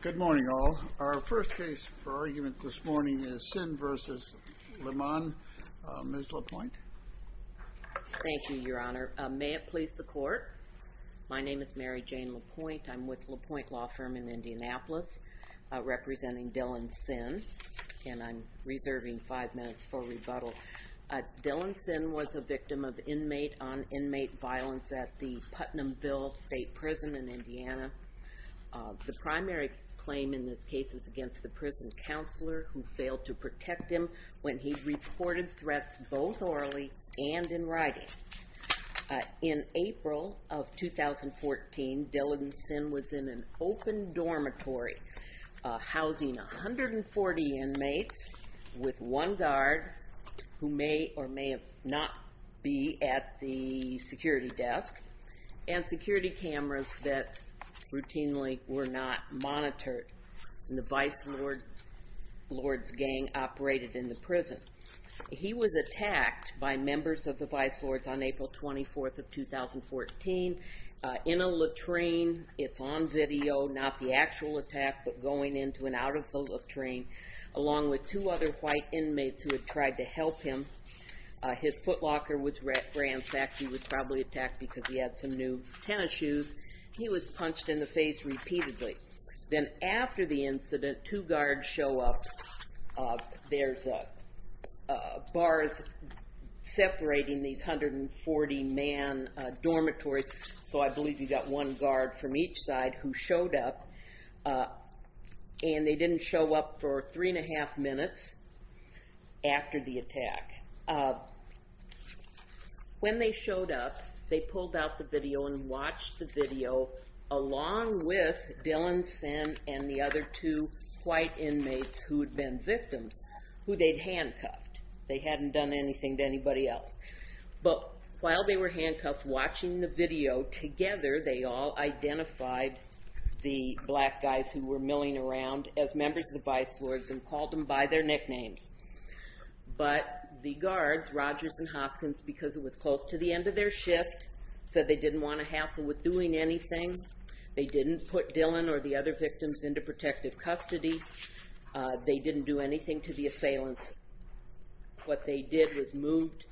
Good morning all. Our first case for argument this morning is Sinn v. Lemmon. Ms. LaPointe. Thank you, Your Honor. May it please the Court. My name is Mary Jane LaPointe. I'm with LaPointe Law Firm in Indianapolis, representing Dylan Sinn, and I'm reserving five minutes for rebuttal. Dylan Sinn was a victim of inmate-on-inmate violence at the Putnamville State Prison in Indiana. The primary claim in this case is against the prison counselor who failed to protect him when he reported threats both orally and in writing. In April of 2014, Dylan Sinn was in an open dormitory housing 140 inmates with one guard who may or may not be at the security desk and security cameras that routinely were not monitored. The Vice Lords gang operated in the prison. He was attacked by members of the Vice Lords on April 24th of 2014 in a latrine. It's on video, not the actual attack, but going into and out of the latrine along with two other white inmates who had tried to help him. His footlocker was ransacked. He was probably attacked because he had some new tennis shoes. He was punched in the face repeatedly. Then after the incident, two guards show up. There's bars separating these 140-man dormitories, so I believe you've got one guard from each side who showed up. They didn't show up for three and a half minutes after the attack. When they showed up, they pulled out the video and watched the video along with Dylan Sinn and the other two white inmates who had been victims who they'd handcuffed. They hadn't done anything to anybody else. While they were handcuffed watching the video, together they all identified the black guys who were milling around as members of the Vice Lords and called them by their nicknames. The guards, Rogers and Hoskins, because it was close to the end of their shift, said they didn't want to hassle with doing anything. They didn't put Dylan or the other moved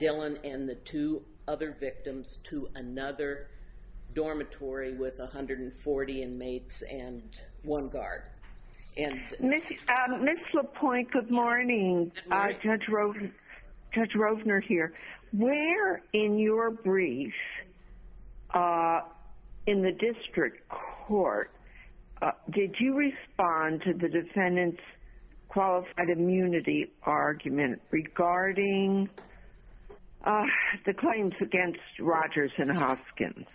Dylan and the two other victims to another dormitory with 140 inmates and one guard. Ms. LaPointe, good morning. Judge Rovner here. Where in your brief in the district court did you respond to the defendant's qualified immunity argument regarding the claims against Rogers and Hoskins?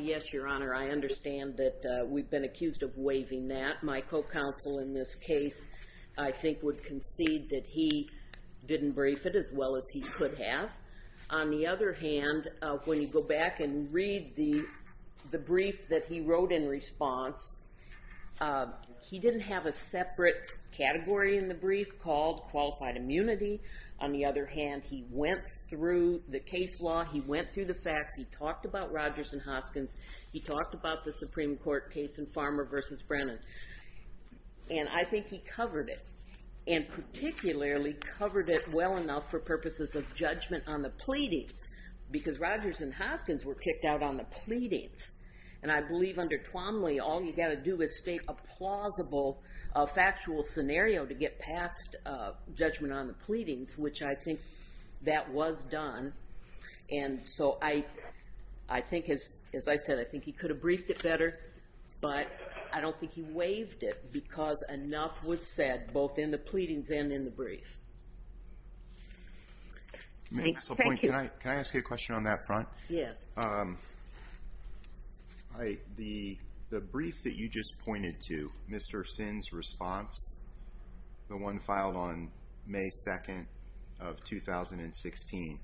Yes, Your Honor. I understand that we've been accused of waiving that. My co-counsel in this case, I think, would concede that he didn't brief it as well as he could have. On the other hand, he didn't have a separate category in the brief called qualified immunity. On the other hand, he went through the case law. He went through the facts. He talked about Rogers and Hoskins. He talked about the Supreme Court case in Farmer v. Brennan. I think he covered it and particularly covered it well enough for purposes of judgment on the pleadings because Rogers and Hoskins were a plausible factual scenario to get past judgment on the pleadings, which I think that was done. And so I think, as I said, I think he could have briefed it better, but I don't think he waived it because enough was said both in the pleadings and in the brief. Ms. LaPointe, can I ask you a question related to Mr. Sinn's response, the one filed on May 2nd of 2016?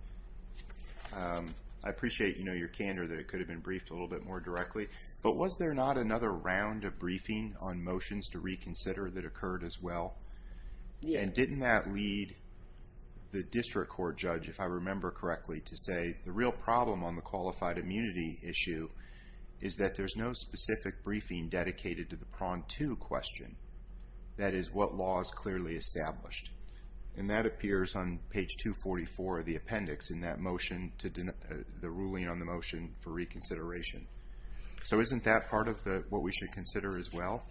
I appreciate your candor that it could have been briefed a little bit more directly, but was there not another round of briefing on motions to reconsider that occurred as well? And didn't that lead the District Court judge, if I remember correctly, to say the real problem on the qualified immunity issue is that there's no specific briefing dedicated to the Prong 2 question, that is, what law is clearly established? And that appears on page 244 of the appendix in that motion, the ruling on the motion for reconsideration. So isn't that part of what we should consider as well?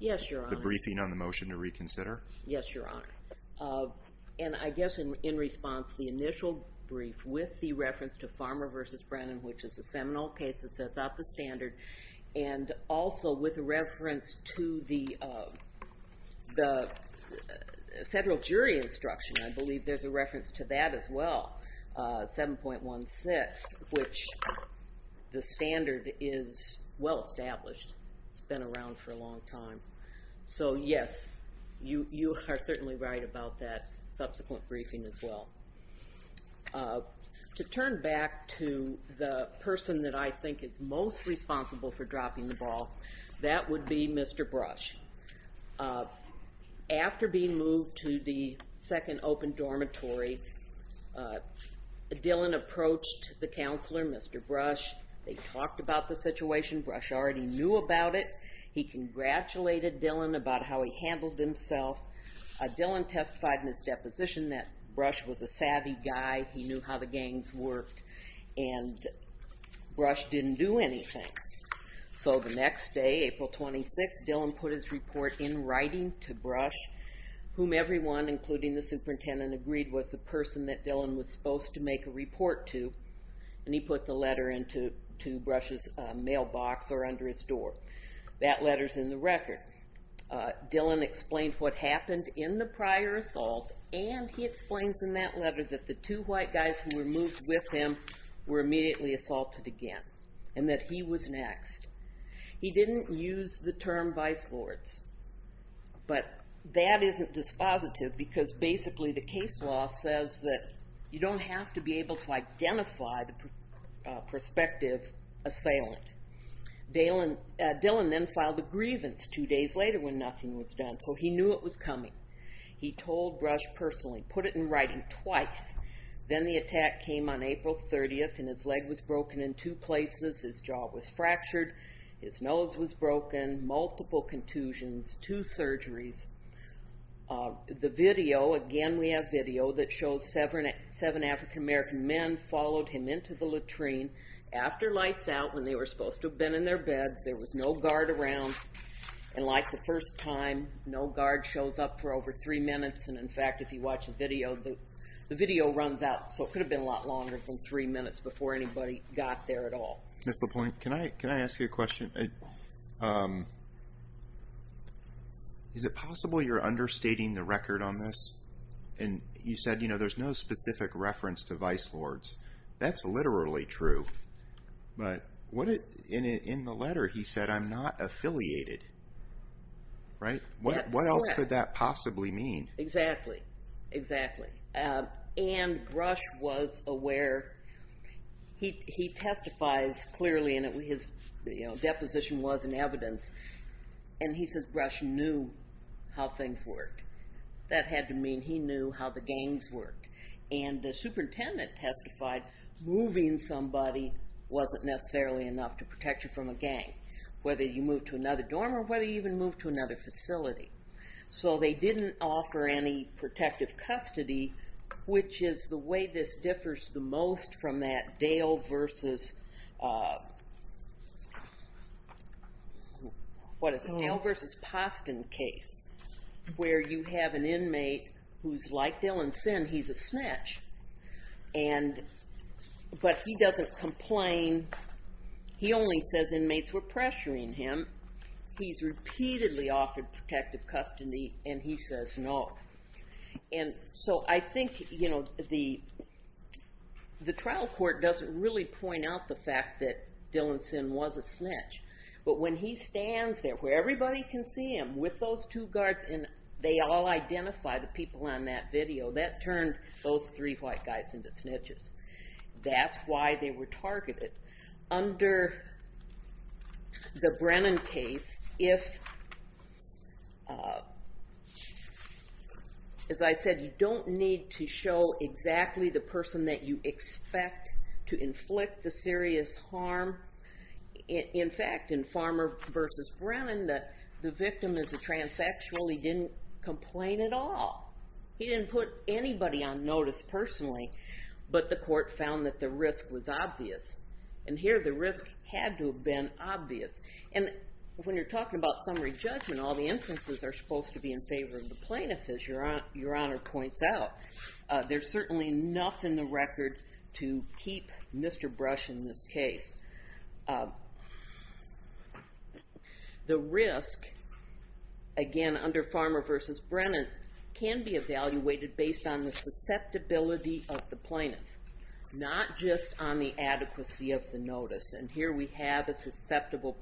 Yes, Your Honor. The briefing on the motion to reconsider? Yes, Your Honor. And I guess in response, the initial brief with the reference to Farmer v. Brennan, which is a seminal case that sets out the standard, and also with reference to the federal jury instruction, I believe there's a reference to that as well, 7.16, which the standard is well established. It's been around for a long time. So yes, you are certainly right about that subsequent briefing as well. To turn back to the person that I think is most responsible for dropping the ball, that would be Mr. Brush. After being moved to the second open dormitory, Dillon approached the counselor, Mr. Brush. They talked about the situation. Brush already knew about it. He congratulated Dillon about how he handled himself. Dillon testified in his deposition that Brush was a savvy guy. He knew how the gangs worked. And Brush didn't do anything. So the next day, April 26, Dillon put his report in writing to Brush, whom everyone, including the superintendent, agreed was the person that Dillon was supposed to make a report to. And he put the letter under his door. That letter's in the record. Dillon explained what happened in the prior assault, and he explains in that letter that the two white guys who were moved with him were immediately assaulted again, and that he was next. He didn't use the term vice lords, but that isn't dispositive because basically the case law says that you don't have to be able to identify the perspective assailant. Dillon then filed a grievance two days later when nothing was done. So he knew it was coming. He told Brush personally, put it in writing twice. Then the attack came on April 30, and his leg was broken in two places. His jaw was fractured. His nose was broken, multiple contusions, two surgeries. The video, again we have video that shows seven African American men followed him into the hospital. After lights out, when they were supposed to have been in their beds, there was no guard around. And like the first time, no guard shows up for over three minutes. And in fact, if you watch the video, the video runs out. So it could have been a lot longer than three minutes before anybody got there at all. Mr. Point, can I ask you a question? Is it possible you're understating the record on this? And you said, there's no specific reference to vice lords. That's literally true. But in the letter, he said, I'm not affiliated. Right? What else could that possibly mean? Exactly. Exactly. And Brush was aware. He testifies clearly, and his deposition was in evidence. And he says Brush knew how things worked. That had to mean he knew how the gangs worked. And the superintendent testified, moving somebody wasn't necessarily enough to protect you from a gang, whether you move to another dorm or whether you even move to another facility. So they didn't offer any protective custody, which is the Powell v. Posten case, where you have an inmate who's like Dillon Sin. He's a snitch. But he doesn't complain. He only says inmates were pressuring him. He's repeatedly offered protective custody, and he says no. And so I think, you know, the trial court doesn't really point out the fact that Dillon Sin was a snitch. But when he can see him with those two guards, and they all identify the people on that video, that turned those three white guys into snitches. That's why they were targeted. Under the Brennan case, if, as I said, you don't need to show the victim is a transsexual, he didn't complain at all. He didn't put anybody on notice personally. But the court found that the risk was obvious. And here, the risk had to have been obvious. And when you're talking about summary judgment, all the inferences are supposed to be in favor of the plaintiff, as Your Honor points out. There's certainly enough in the record to keep Mr. Brush in this case. The risk, again, under Farmer v. Brennan, can be evaluated based on the susceptibility of the plaintiff, not just on the adequacy of the notice. And here we have a susceptible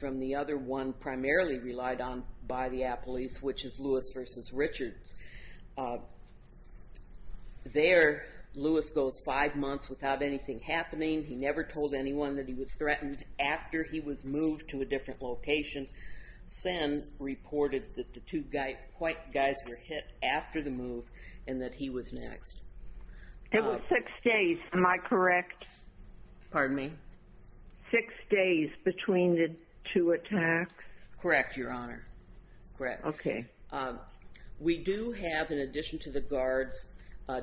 from the other one primarily relied on by the appellees, which is Lewis v. Richards. There, Lewis goes five months without anything happening. He never told anyone that he was threatened. After he was moved to a different location, Sin reported that the two white guys were hit after the move, and that he was next. It was six days, am I correct? Pardon me? Six days between the two attacks? Correct, Your Honor. Correct. Okay. We do have, in addition to the guards,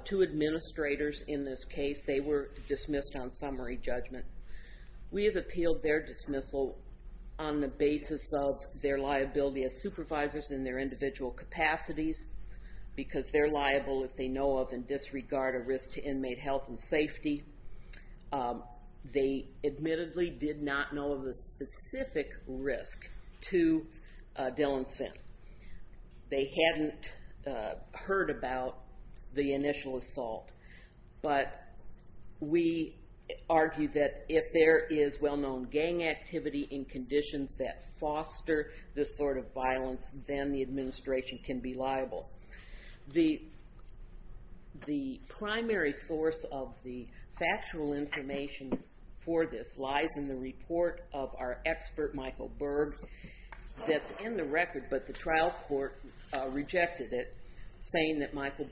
two administrators in this case. They were dismissed on summary judgment. We have appealed their dismissal on the basis of their liability as supervisors in their individual capacities, because they're liable if they know of and disregard a risk to inmate health and safety. They admittedly did not know of a specific risk to Dillon Sin. They hadn't heard about the initial assault, but we argue that if there is well-known gang activity in conditions that foster this sort of violence, then the administration can be liable. The primary source of the factual information for this lies in the report of our expert, Michael Berg, that's in the record, but the trial court rejected it, saying that Michael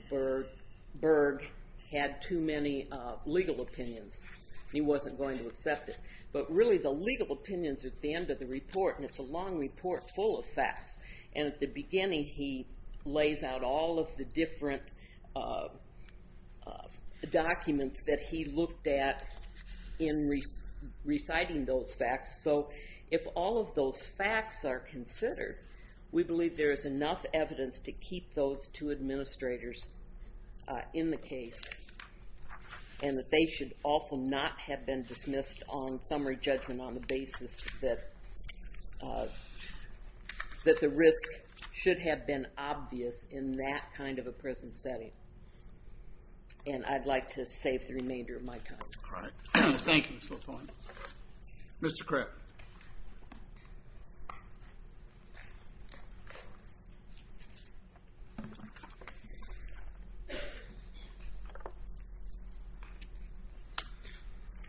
Berg had too many legal opinions. He wasn't going to accept it. But really the legal opinions at the end of the report, and it's a long report full of facts, and at the beginning he lays out all of the different documents that he looked at in reciting those facts. So if all of those facts are considered, we believe there is enough evidence to keep those two administrators in the case, and that they should also not have been dismissed on summary judgment on the basis that the risk should have been obvious in that kind of a prison setting. And I'd like to save the remainder of my time. All right. Thank you, Ms. LaFontaine. Mr. Kripp. Good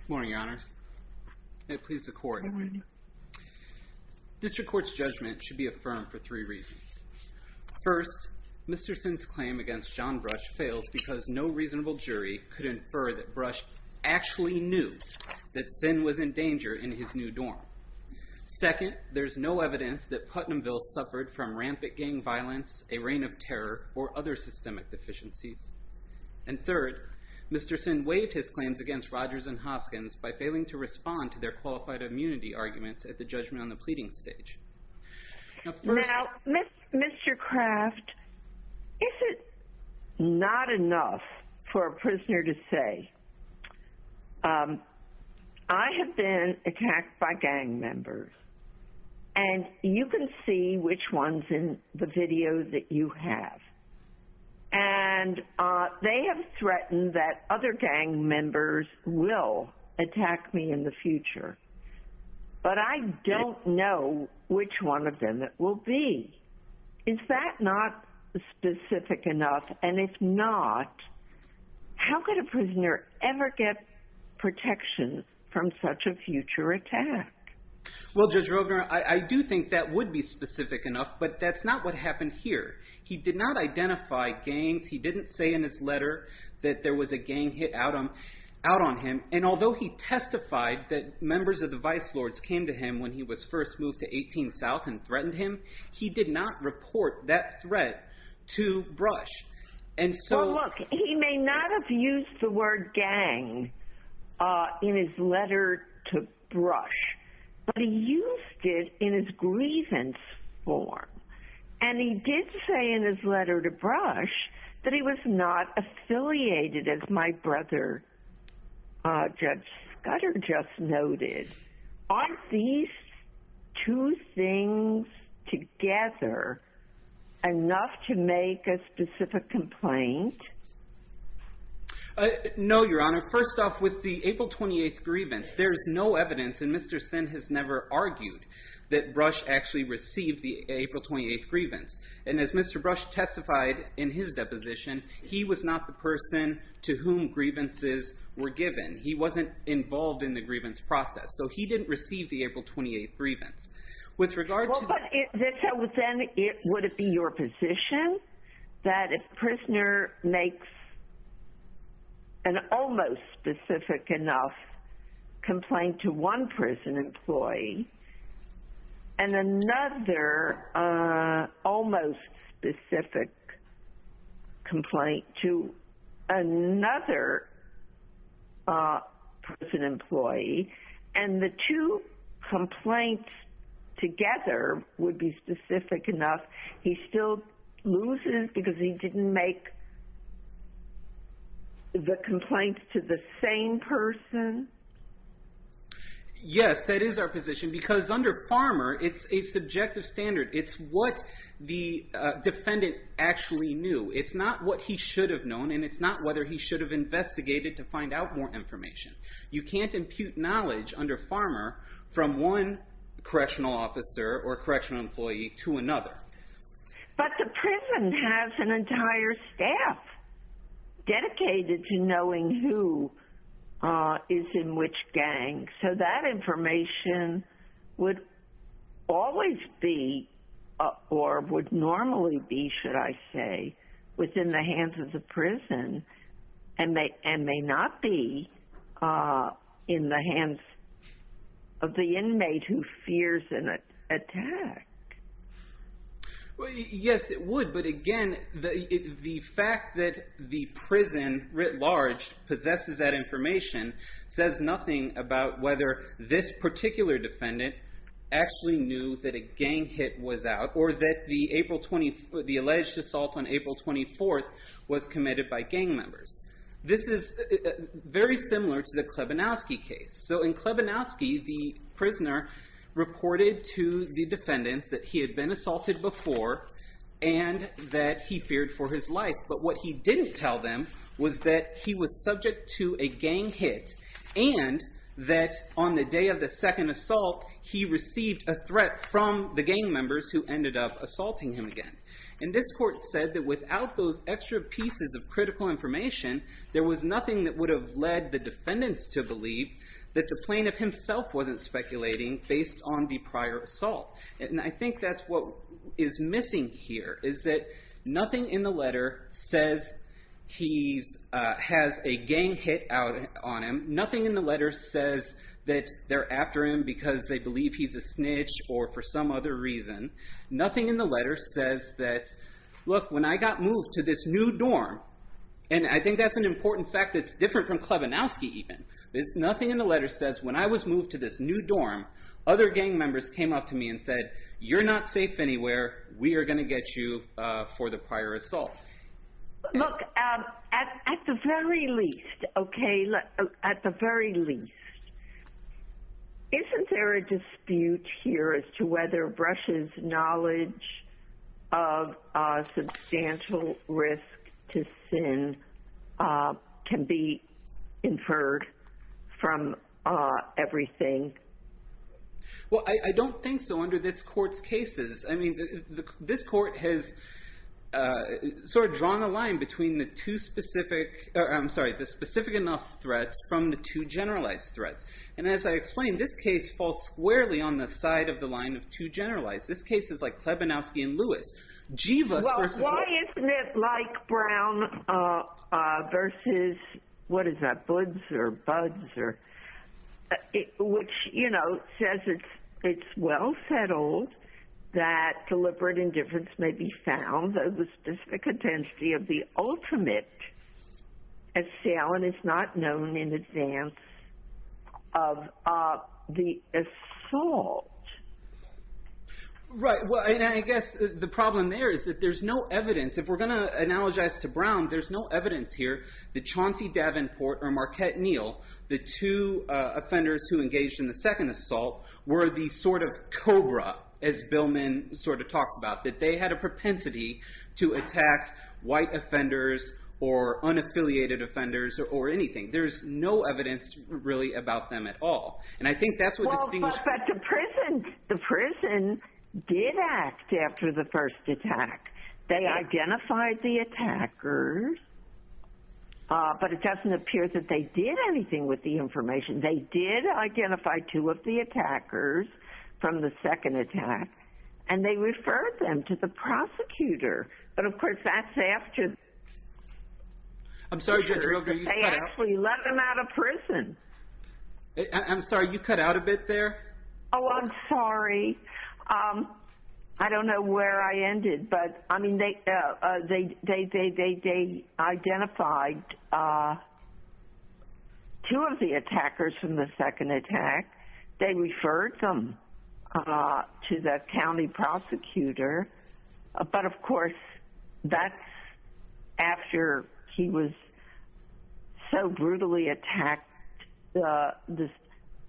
morning, Your Honors. May it please the Court. Good morning. District Court's judgment should be affirmed for three reasons. First, Mr. Sinn's claim against John Brush fails because no reasonable jury could infer that Brush actually knew that Sinn was in danger in his new dorm. Second, there's no evidence that Putnamville suffered from rampant gang violence, a reign of terror, or other systemic deficiencies. And third, Mr. Sinn waived his claims against Rogers and Hoskins by failing to respond to their qualified immunity arguments at the judgment on the pleading stage. Now, Mr. Kraft, is it not enough for a prisoner to say, I have been attacked by gang members, and you can see which ones in the video that you have. And they have threatened that other gang members will attack me in the future. But I don't know which one of them it will be. Is that not specific enough? And if not, how could a prisoner ever get protection from such a future attack? Well, Judge Rovner, I do think that would be specific enough. But that's not what happened here. He did not identify gangs. He didn't say in his letter that there was a gang hit out on him. And although he testified that members of the vice lords came to him when he was first moved to 18 South and threatened him, he did not report that threat to Brush. And so look, he may not have used the word gang in his letter to Brush, but he used it in his grievance form. And he did say in his letter to Brush, that he was not affiliated as my brother, Judge Scudder just noted. Are these two things together enough to make a specific complaint? No, Your Honor. First off, with the April 28th grievance, there's no evidence and Mr. Sin has never argued that Brush actually received the April 28th grievance. And as Mr. Brush testified in his deposition, he was not the person to whom grievances were given. He wasn't involved in the grievance process. So he didn't receive the April 28th grievance. With regard to... Would it be your position that if a prisoner makes an almost specific enough complaint to one prison employee and another almost specific complaint to another prison employee specific enough, he still loses because he didn't make the complaint to the same person? Yes, that is our position. Because under Farmer, it's a subjective standard. It's what the defendant actually knew. It's not what he should have known. And it's not whether he should have investigated to find out more information. You can't impute knowledge under Farmer from one correctional officer or correctional employee to another. But the prison has an entire staff dedicated to knowing who is in which gang. So that information would always be or would normally be, should I say, within the hands of the attack? Yes, it would. But again, the fact that the prison writ large possesses that information says nothing about whether this particular defendant actually knew that a gang hit was out or that the defendants that he had been assaulted before, and that he feared for his life. But what he didn't tell them was that he was subject to a gang hit. And that on the day of the second assault, he received a threat from the gang members who ended up assaulting him again. And this court said that without those extra pieces of critical information, there was nothing that would have led the defendants to believe that the plaintiff himself wasn't speculating based on the prior assault. And I think that's what is missing here, is that nothing in the letter says he has a gang hit on him. Nothing in the letter says that they're after him because they believe he's a snitch or for some other reason. Nothing in the letter says that, look, when I got moved to this new dorm, and I think that's an important fact that's different from Klebanowski even, there's nothing in the letter says when I was moved to this new dorm, other gang members came up to me and said, you're not safe anywhere. We are going to get you for the prior assault. Look, at the very least, okay, at the very least, isn't there a dispute here as to whether Brush's knowledge of substantial risk to sin can be inferred from everything? Well, I don't think so under this court's cases. I mean, this court has sort of drawn a line between the two specific, I'm sorry, the specific enough threats from the two generalized threats. And as I explained, this case falls squarely on the side of the line of two generalized. This case is like Klebanowski and Lewis. Well, why isn't it like Brown versus, what is that, Buds or Buds? Which, you know, says it's, it's well settled that deliberate indifference may be found at the specific intensity of the ultimate assailant is not known in advance of the assault. Right. Well, I guess the problem there is that there's no evidence. If we're going to analogize to Brown, there's no evidence here that Chauncey Davenport or Marquette Neal, the two offenders who engaged in the second assault, were the sort of Cobra, as Billman sort of talks about, that they had a propensity to attack white offenders or unaffiliated offenders or anything. There's no evidence really about them at all. And I think that's what distinguishes. But the prison, the prison did act after the first attack. They identified the attackers. But it doesn't appear that they did anything with the information. They did identify two of the attackers from the second attack, and they referred them to the prosecutor. But of course, that's after. I'm sorry, Judge Rilker, you cut out. They actually let them out of prison. I'm sorry, you cut out a bit there.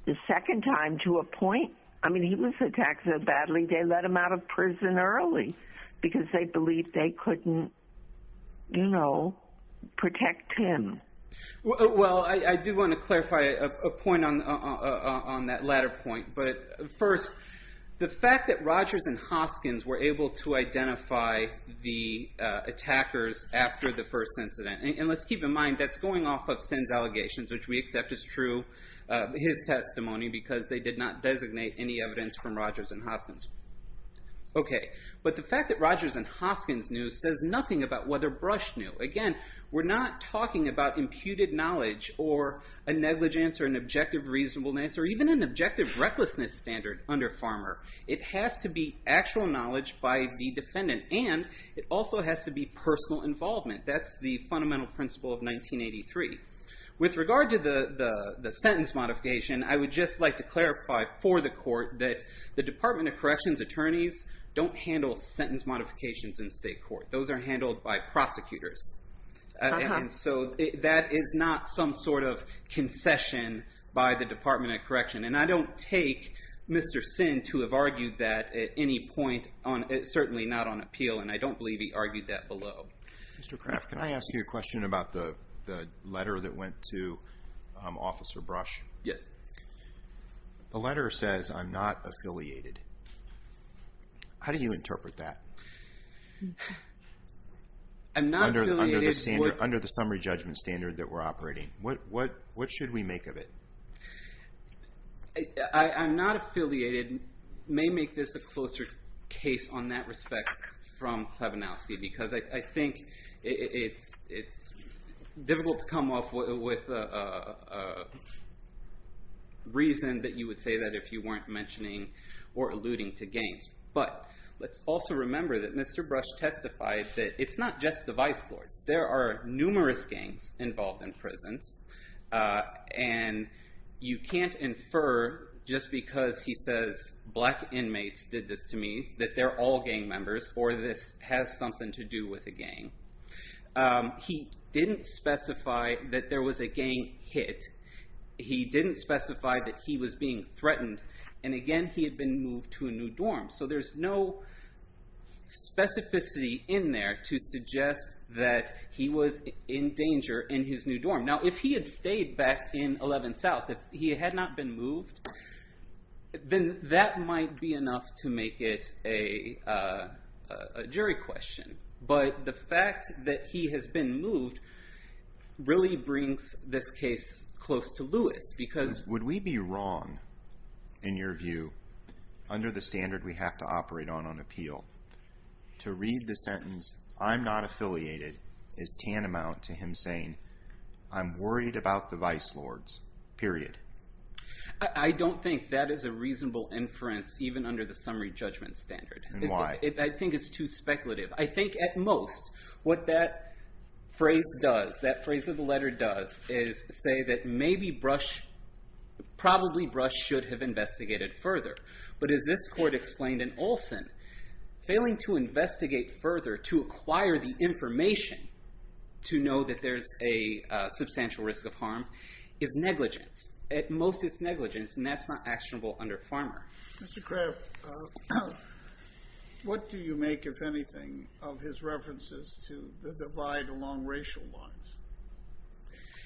The second time to a point, I mean, he was attacked so badly, they let him out of prison early because they believed they couldn't, you know, protect him. Well, I do want to clarify a point on that latter point. But first, the fact that Rogers and Hoskins were able to identify the attackers after the first incident, and let's keep in mind, that's going off of Senn's allegations, which we accept is true, his testimony, because they did not designate any evidence from Rogers and Hoskins. Okay, but the fact that Rogers and Hoskins knew says nothing about whether Brush knew. Again, we're not talking about imputed knowledge, or a negligence, or an objective reasonableness, or even an objective recklessness standard under Farmer. It has to be actual knowledge by the defendant, and it also has to be personal involvement. That's the fundamental principle of 1983. With regard to the sentence modification, I would just like to clarify for the court that the Department of Correction's attorneys don't handle sentence modifications in state court. Those are handled by prosecutors. And so that is not some sort of concession by the Department of Correction, and I don't take Mr. Senn to have argued that at any point, certainly not on appeal, and I don't believe he argued that below. Mr. Kraft, can I ask you a question about the letter that went to Officer Brush? Yes. The letter says, I'm not affiliated. How do you interpret that? I'm not affiliated. Under the summary judgment standard that we're operating. What should we make of it? I'm not affiliated, may make this a closer case on that respect from Klebanowski, because I think it's difficult to come up with a reason that you would say that if you weren't mentioning or alluding to gangs. But let's also remember that Mr. Brush testified that it's not just the vice lords. There are numerous gangs involved in prisons, and you can't infer just because he says black inmates did this to me that they're all gang members or this has something to do with a gang. He didn't specify that there was a gang hit. He didn't specify that he was being threatened. And again, he had been moved to a new dorm. So there's no specificity in there to suggest that he was in danger in his new dorm. Now, if he had stayed back in 11 South, if he had not been moved, then that might be enough to make it a jury question. But the fact that he has been moved really brings this case close to Lewis. Would we be wrong, in your view, under the standard we have to operate on on appeal, to read the sentence, I'm not affiliated, as tantamount to him saying, I'm worried about the vice lords, period? I don't think that is a reasonable inference, even under the summary judgment standard. I think it's too speculative. I think at most, what that phrase does, that phrase of the letter does, is say that maybe Brush, probably Brush should have investigated further. But as this court explained in Olson, failing to investigate further to acquire the information to know that there's a substantial risk of harm is negligence. At most, it's negligence, and that's not actionable under Farmer. Mr. Craft, what do you make, if anything, of his references to the divide along racial lines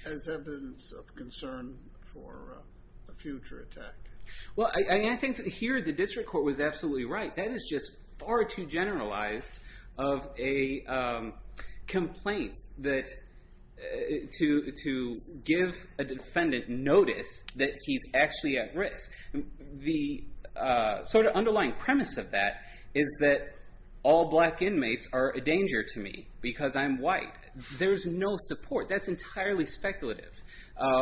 as evidence of concern for a future attack? Well, I think here the district court was absolutely right. That is just far too generalized of a complaint to give a defendant notice that he's actually at risk. The underlying premise of that is that all black inmates are a danger to me because I'm white. There's no support. That's entirely speculative.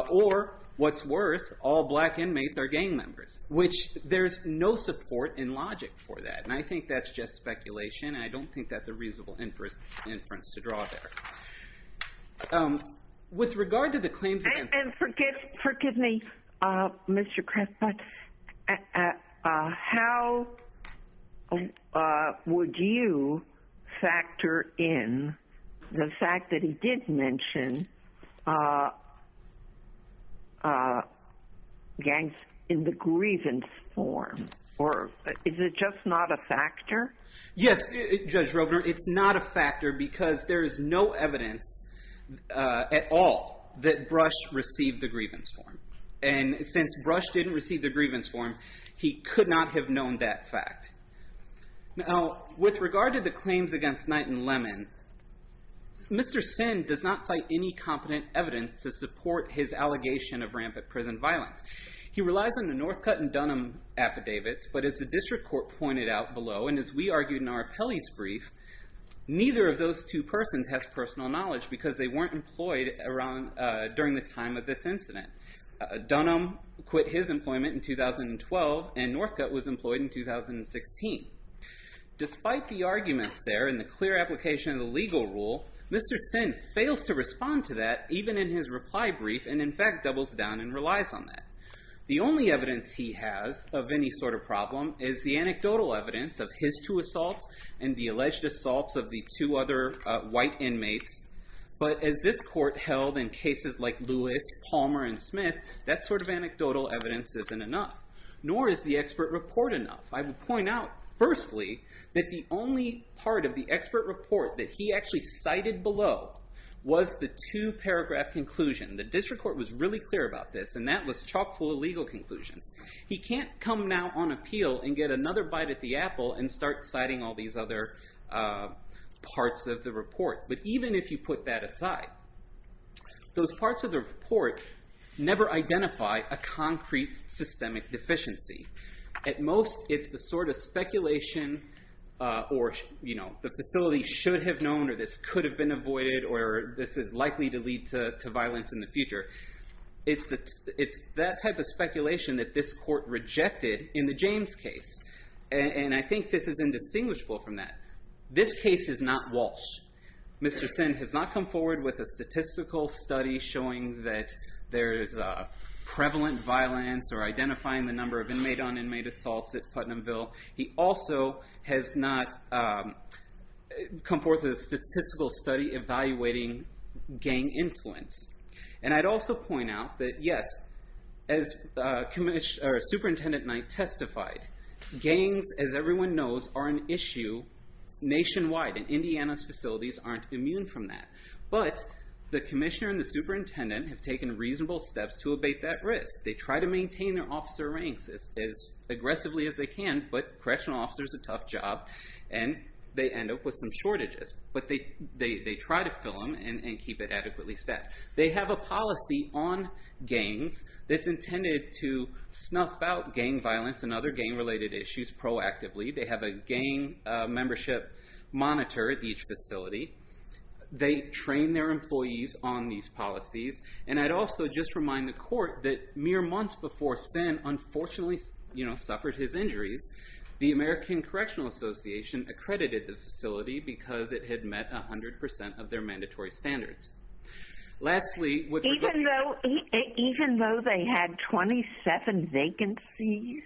Or, what's worse, all black inmates are gang members, which there's no support in logic for that. And I think that's just speculation, and I don't think that's a reasonable inference to draw there. With regard to the claims... And forgive me, Mr. Craft, but how would you factor in the fact that he did mention gangs in the grievance form? Or is it just not a factor? Yes, Judge Rovner, it's not a factor because there is no evidence at all that Brush received the grievance form. And since Brush didn't receive the grievance form, he could not have known that fact. Now, with regard to the claims against Knight and Lemon, Mr. Sin does not cite any competent evidence to support his allegation of rampant prison violence. He relies on the Northcutt and Dunham affidavits, but as the district court pointed out below, and as we argued in our appellee's brief, neither of those two persons has personal knowledge because they weren't employed during the time of this incident. Dunham quit his employment in 2012, and Northcutt was employed in 2016. Despite the arguments there and the clear application of the legal rule, Mr. Sin fails to respond to that, even in his reply brief, and in fact doubles down and relies on that. The only evidence he has of any sort of problem is the anecdotal evidence of his two assaults and the alleged assaults of the two other white inmates. But as this court held in cases like Lewis, Palmer, and Smith, that sort of anecdotal evidence isn't enough, nor is the expert report enough. I will point out, firstly, that the only part of the expert report that he actually cited below was the two paragraph conclusion. The district court was really clear about this, and that was chock full of legal conclusions. He can't come now on appeal and get another bite at the apple and start citing all these other parts of the report. But even if you put that aside, those parts of the report never identify a concrete systemic deficiency. At most, it's the sort of speculation, or the facility should have known, or this could have been avoided, or this is likely to lead to violence in the future. It's that type of speculation that this court rejected in the James case. And I think this is indistinguishable from that. This case is not Walsh. Mr. Sinn has not come forward with a statistical study showing that there is prevalent violence or identifying the number of inmate-on-inmate assaults at Putnamville. He also has not come forth with a statistical study evaluating gang influence. And I'd also point out that, yes, as Superintendent Knight testified, gangs, as everyone knows, are an issue nationwide, and Indiana's facilities aren't immune from that. But the commissioner and the superintendent have taken reasonable steps to abate that risk. They try to maintain their officer ranks as aggressively as they can, but correctional officers are a tough job, and they end up with some shortages. But they try to fill them and keep it adequately staffed. They have a policy on gangs that's intended to snuff out gang violence and other gang-related issues proactively. They have a gang membership monitor at each facility. They train their employees on these policies. And I'd also just remind the court that mere months before Sinn unfortunately suffered his injuries, the American Correctional Association accredited the facility because it had met 100% of their mandatory standards. Lastly, with regard to- Even though they had 27 vacancies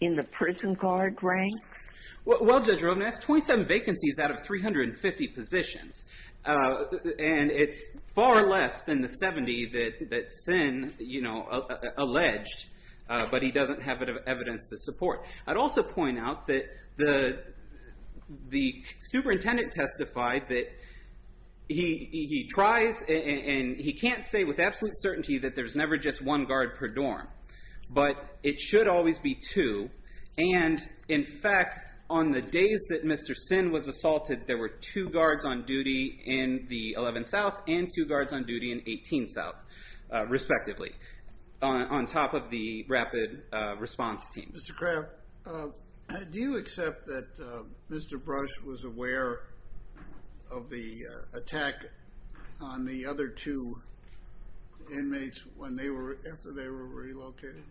in the prison guard ranks? Well, Judge Rovnes, 27 vacancies out of 350 positions. And it's far less than the 70 that Sinn alleged, but he doesn't have evidence to support. I'd also point out that the superintendent testified that he tries and he can't say with absolute certainty that there's never just one guard per dorm. But it should always be two. And, in fact, on the days that Mr. Sinn was assaulted, there were two guards on duty in the 11 South and two guards on duty in 18 South, respectively, on top of the rapid response teams. Mr. Kraft, do you accept that Mr. Brush was aware of the attack on the other two inmates after they were relocated?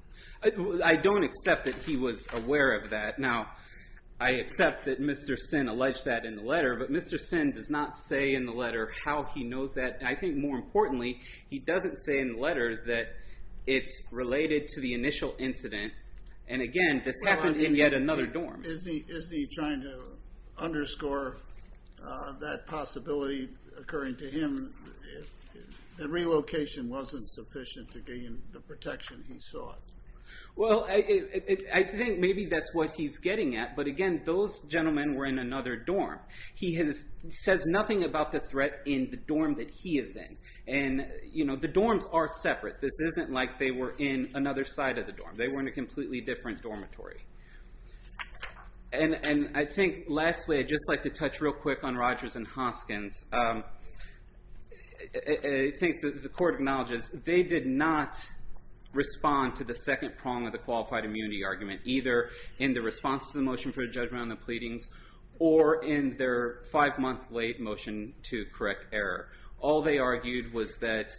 I don't accept that he was aware of that. Now, I accept that Mr. Sinn alleged that in the letter, but Mr. Sinn does not say in the letter how he knows that. I think, more importantly, he doesn't say in the letter that it's related to the initial incident. And, again, this happened in yet another dorm. Is he trying to underscore that possibility occurring to him that relocation wasn't sufficient to gain the protection he sought? Well, I think maybe that's what he's getting at. But, again, those gentlemen were in another dorm. He says nothing about the threat in the dorm that he is in. And, you know, the dorms are separate. This isn't like they were in another side of the dorm. They were in a completely different dormitory. And I think, lastly, I'd just like to touch real quick on Rogers and Hoskins. I think the court acknowledges they did not respond to the second prong of the qualified immunity argument, either in the response to the motion for judgment on the pleadings or in their five-month-late motion to correct error. All they argued was that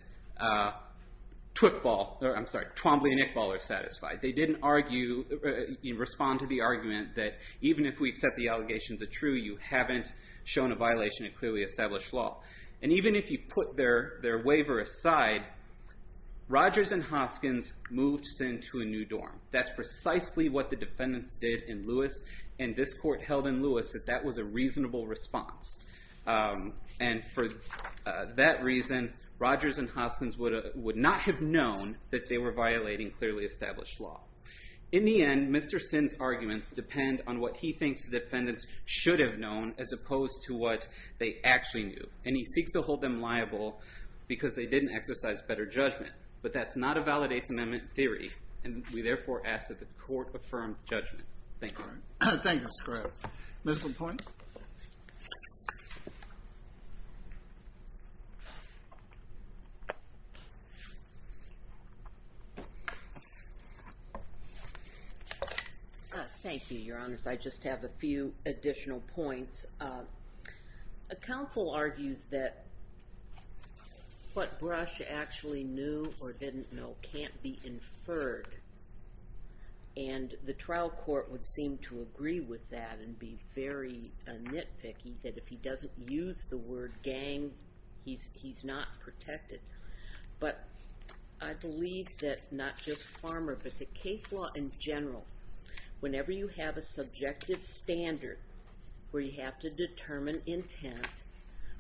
Twickball or, I'm sorry, Twombly and Ickball are satisfied. They didn't respond to the argument that even if we accept the allegations are true, you haven't shown a violation of clearly established law. And even if you put their waiver aside, Rogers and Hoskins moved Sin to a new dorm. That's precisely what the defendants did in Lewis. And this court held in Lewis that that was a reasonable response. And for that reason, Rogers and Hoskins would not have known that they were violating clearly established law. In the end, Mr. Sin's arguments depend on what he thinks the defendants should have known as opposed to what they actually knew. And he seeks to hold them liable because they didn't exercise better judgment. But that's not a valid Eighth Amendment theory, and we therefore ask that the court affirm judgment. Thank you. All right. Thank you, Scripps. Ms. LaPointe? Thank you, Your Honors. I just have a few additional points. A counsel argues that what Brush actually knew or didn't know can't be inferred. And the trial court would seem to agree with that and be very nitpicky that if he doesn't use the word gang, he's not protected. But I believe that not just Farmer but the case law in general, whenever you have a subjective standard where you have to determine intent,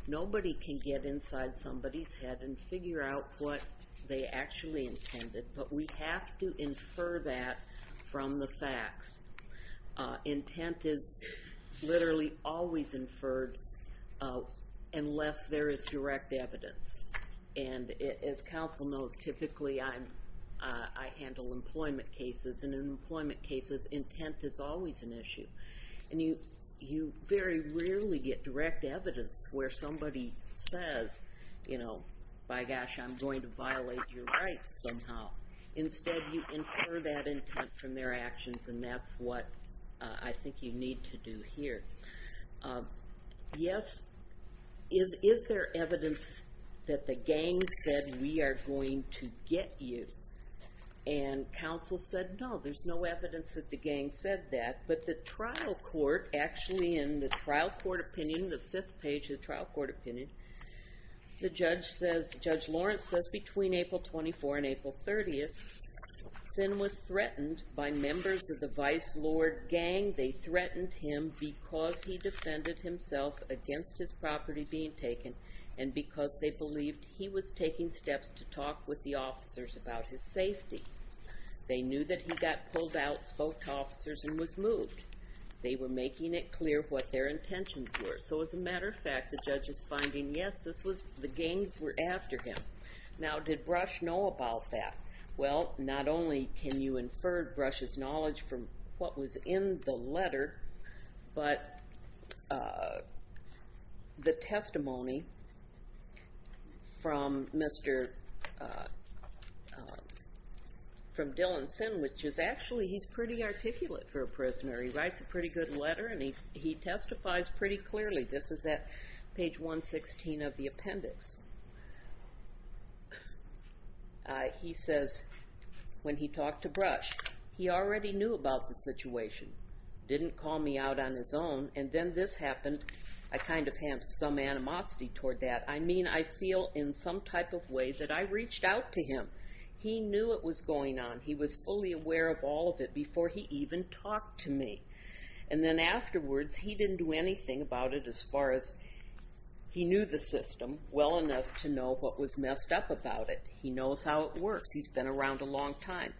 nobody can get inside somebody's head and figure out what they actually intended. But we have to infer that from the facts. Intent is literally always inferred unless there is direct evidence. And as counsel knows, typically I handle employment cases. And in employment cases, intent is always an issue. And you very rarely get direct evidence where somebody says, you know, by gosh, I'm going to violate your rights somehow. Instead, you infer that intent from their actions, and that's what I think you need to do here. Yes, is there evidence that the gang said, we are going to get you? And counsel said, no, there's no evidence that the gang said that. But the trial court, actually in the trial court opinion, the fifth page of the trial court opinion, Judge Lawrence says between April 24 and April 30, Sin was threatened by members of the Vice Lord Gang. They threatened him because he defended himself against his property being taken and because they believed he was taking steps to talk with the officers about his safety. They knew that he got pulled out, spoke to officers, and was moved. They were making it clear what their intentions were. So as a matter of fact, the judge is finding, yes, the gangs were after him. Now, did Brush know about that? Well, not only can you infer Brush's knowledge from what was in the letter, but the testimony from Dylan Sin, which is actually he's pretty articulate for a prisoner. He writes a pretty good letter, and he testifies pretty clearly. This is at page 116 of the appendix. He says, when he talked to Brush, he already knew about the situation, didn't call me out on his own, and then this happened. I kind of have some animosity toward that. I mean, I feel in some type of way that I reached out to him. He knew it was going on. He was fully aware of all of it before he even talked to me. And then afterwards, he didn't do anything about it as far as he knew the system well enough to know what was messed up about it. He knows how it works. He's been around a long time.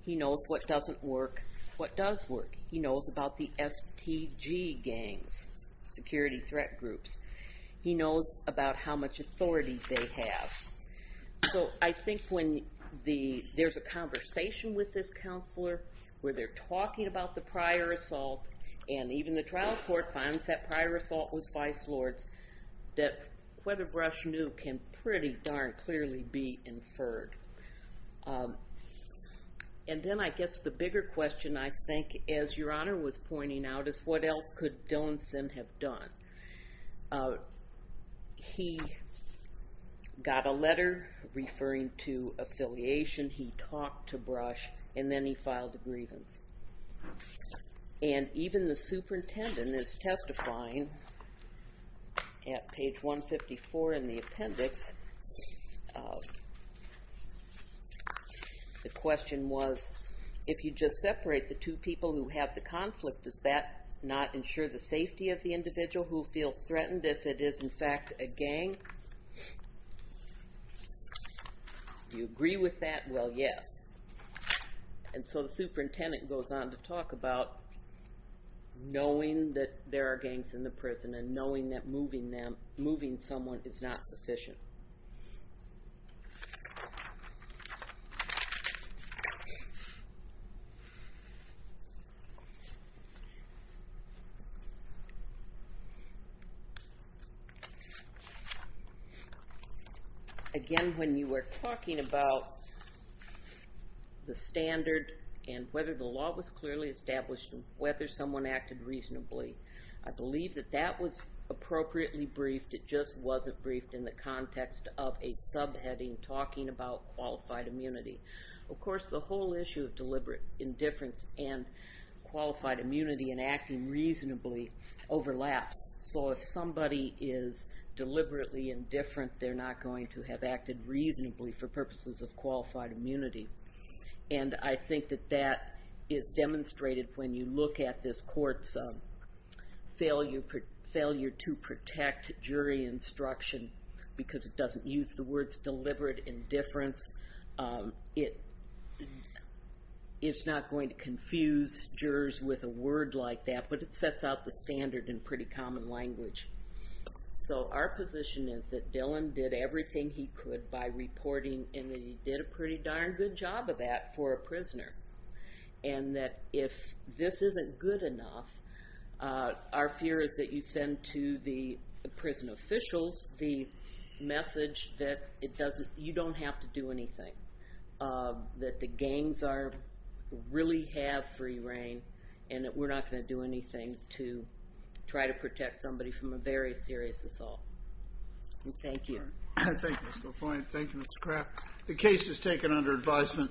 He knows what doesn't work, what does work. He knows about the STG gangs, security threat groups. He knows about how much authority they have. So I think when there's a conversation with this counselor, where they're talking about the prior assault, and even the trial court finds that prior assault was vice lord's, that whether Brush knew can pretty darn clearly be inferred. And then I guess the bigger question, I think, as Your Honor was pointing out, is what else could Dillinson have done? He got a letter referring to affiliation. He talked to Brush, and then he filed a grievance. And even the superintendent is testifying at page 154 in the appendix. The question was, if you just separate the two people who have the conflict, does that not ensure the safety of the individual who feels threatened if it is, in fact, a gang? Do you agree with that? Well, yes. And so the superintendent goes on to talk about knowing that there are gangs in the prison and knowing that moving someone is not sufficient. Thank you. Again, when you were talking about the standard and whether the law was clearly established and whether someone acted reasonably, I believe that that was appropriately briefed. It just wasn't briefed in the context of a subheading talking about qualified immunity. Of course, the whole issue of deliberate indifference and qualified immunity and acting reasonably overlaps. So if somebody is deliberately indifferent, they're not going to have acted reasonably for purposes of qualified immunity. And I think that that is demonstrated when you look at this court's failure to protect jury instruction because it doesn't use the words deliberate indifference. It's not going to confuse jurors with a word like that, but it sets out the standard in pretty common language. So our position is that Dylan did everything he could by reporting and that he did a pretty darn good job of that for a prisoner. And that if this isn't good enough, our fear is that you send to the prison officials the message that you don't have to do anything, that the gangs really have free reign, and that we're not going to do anything to try to protect somebody from a very serious assault. Thank you. Thank you, Mr. LaPointe. Thank you, Mr. Kraft. The case is taken under advisement.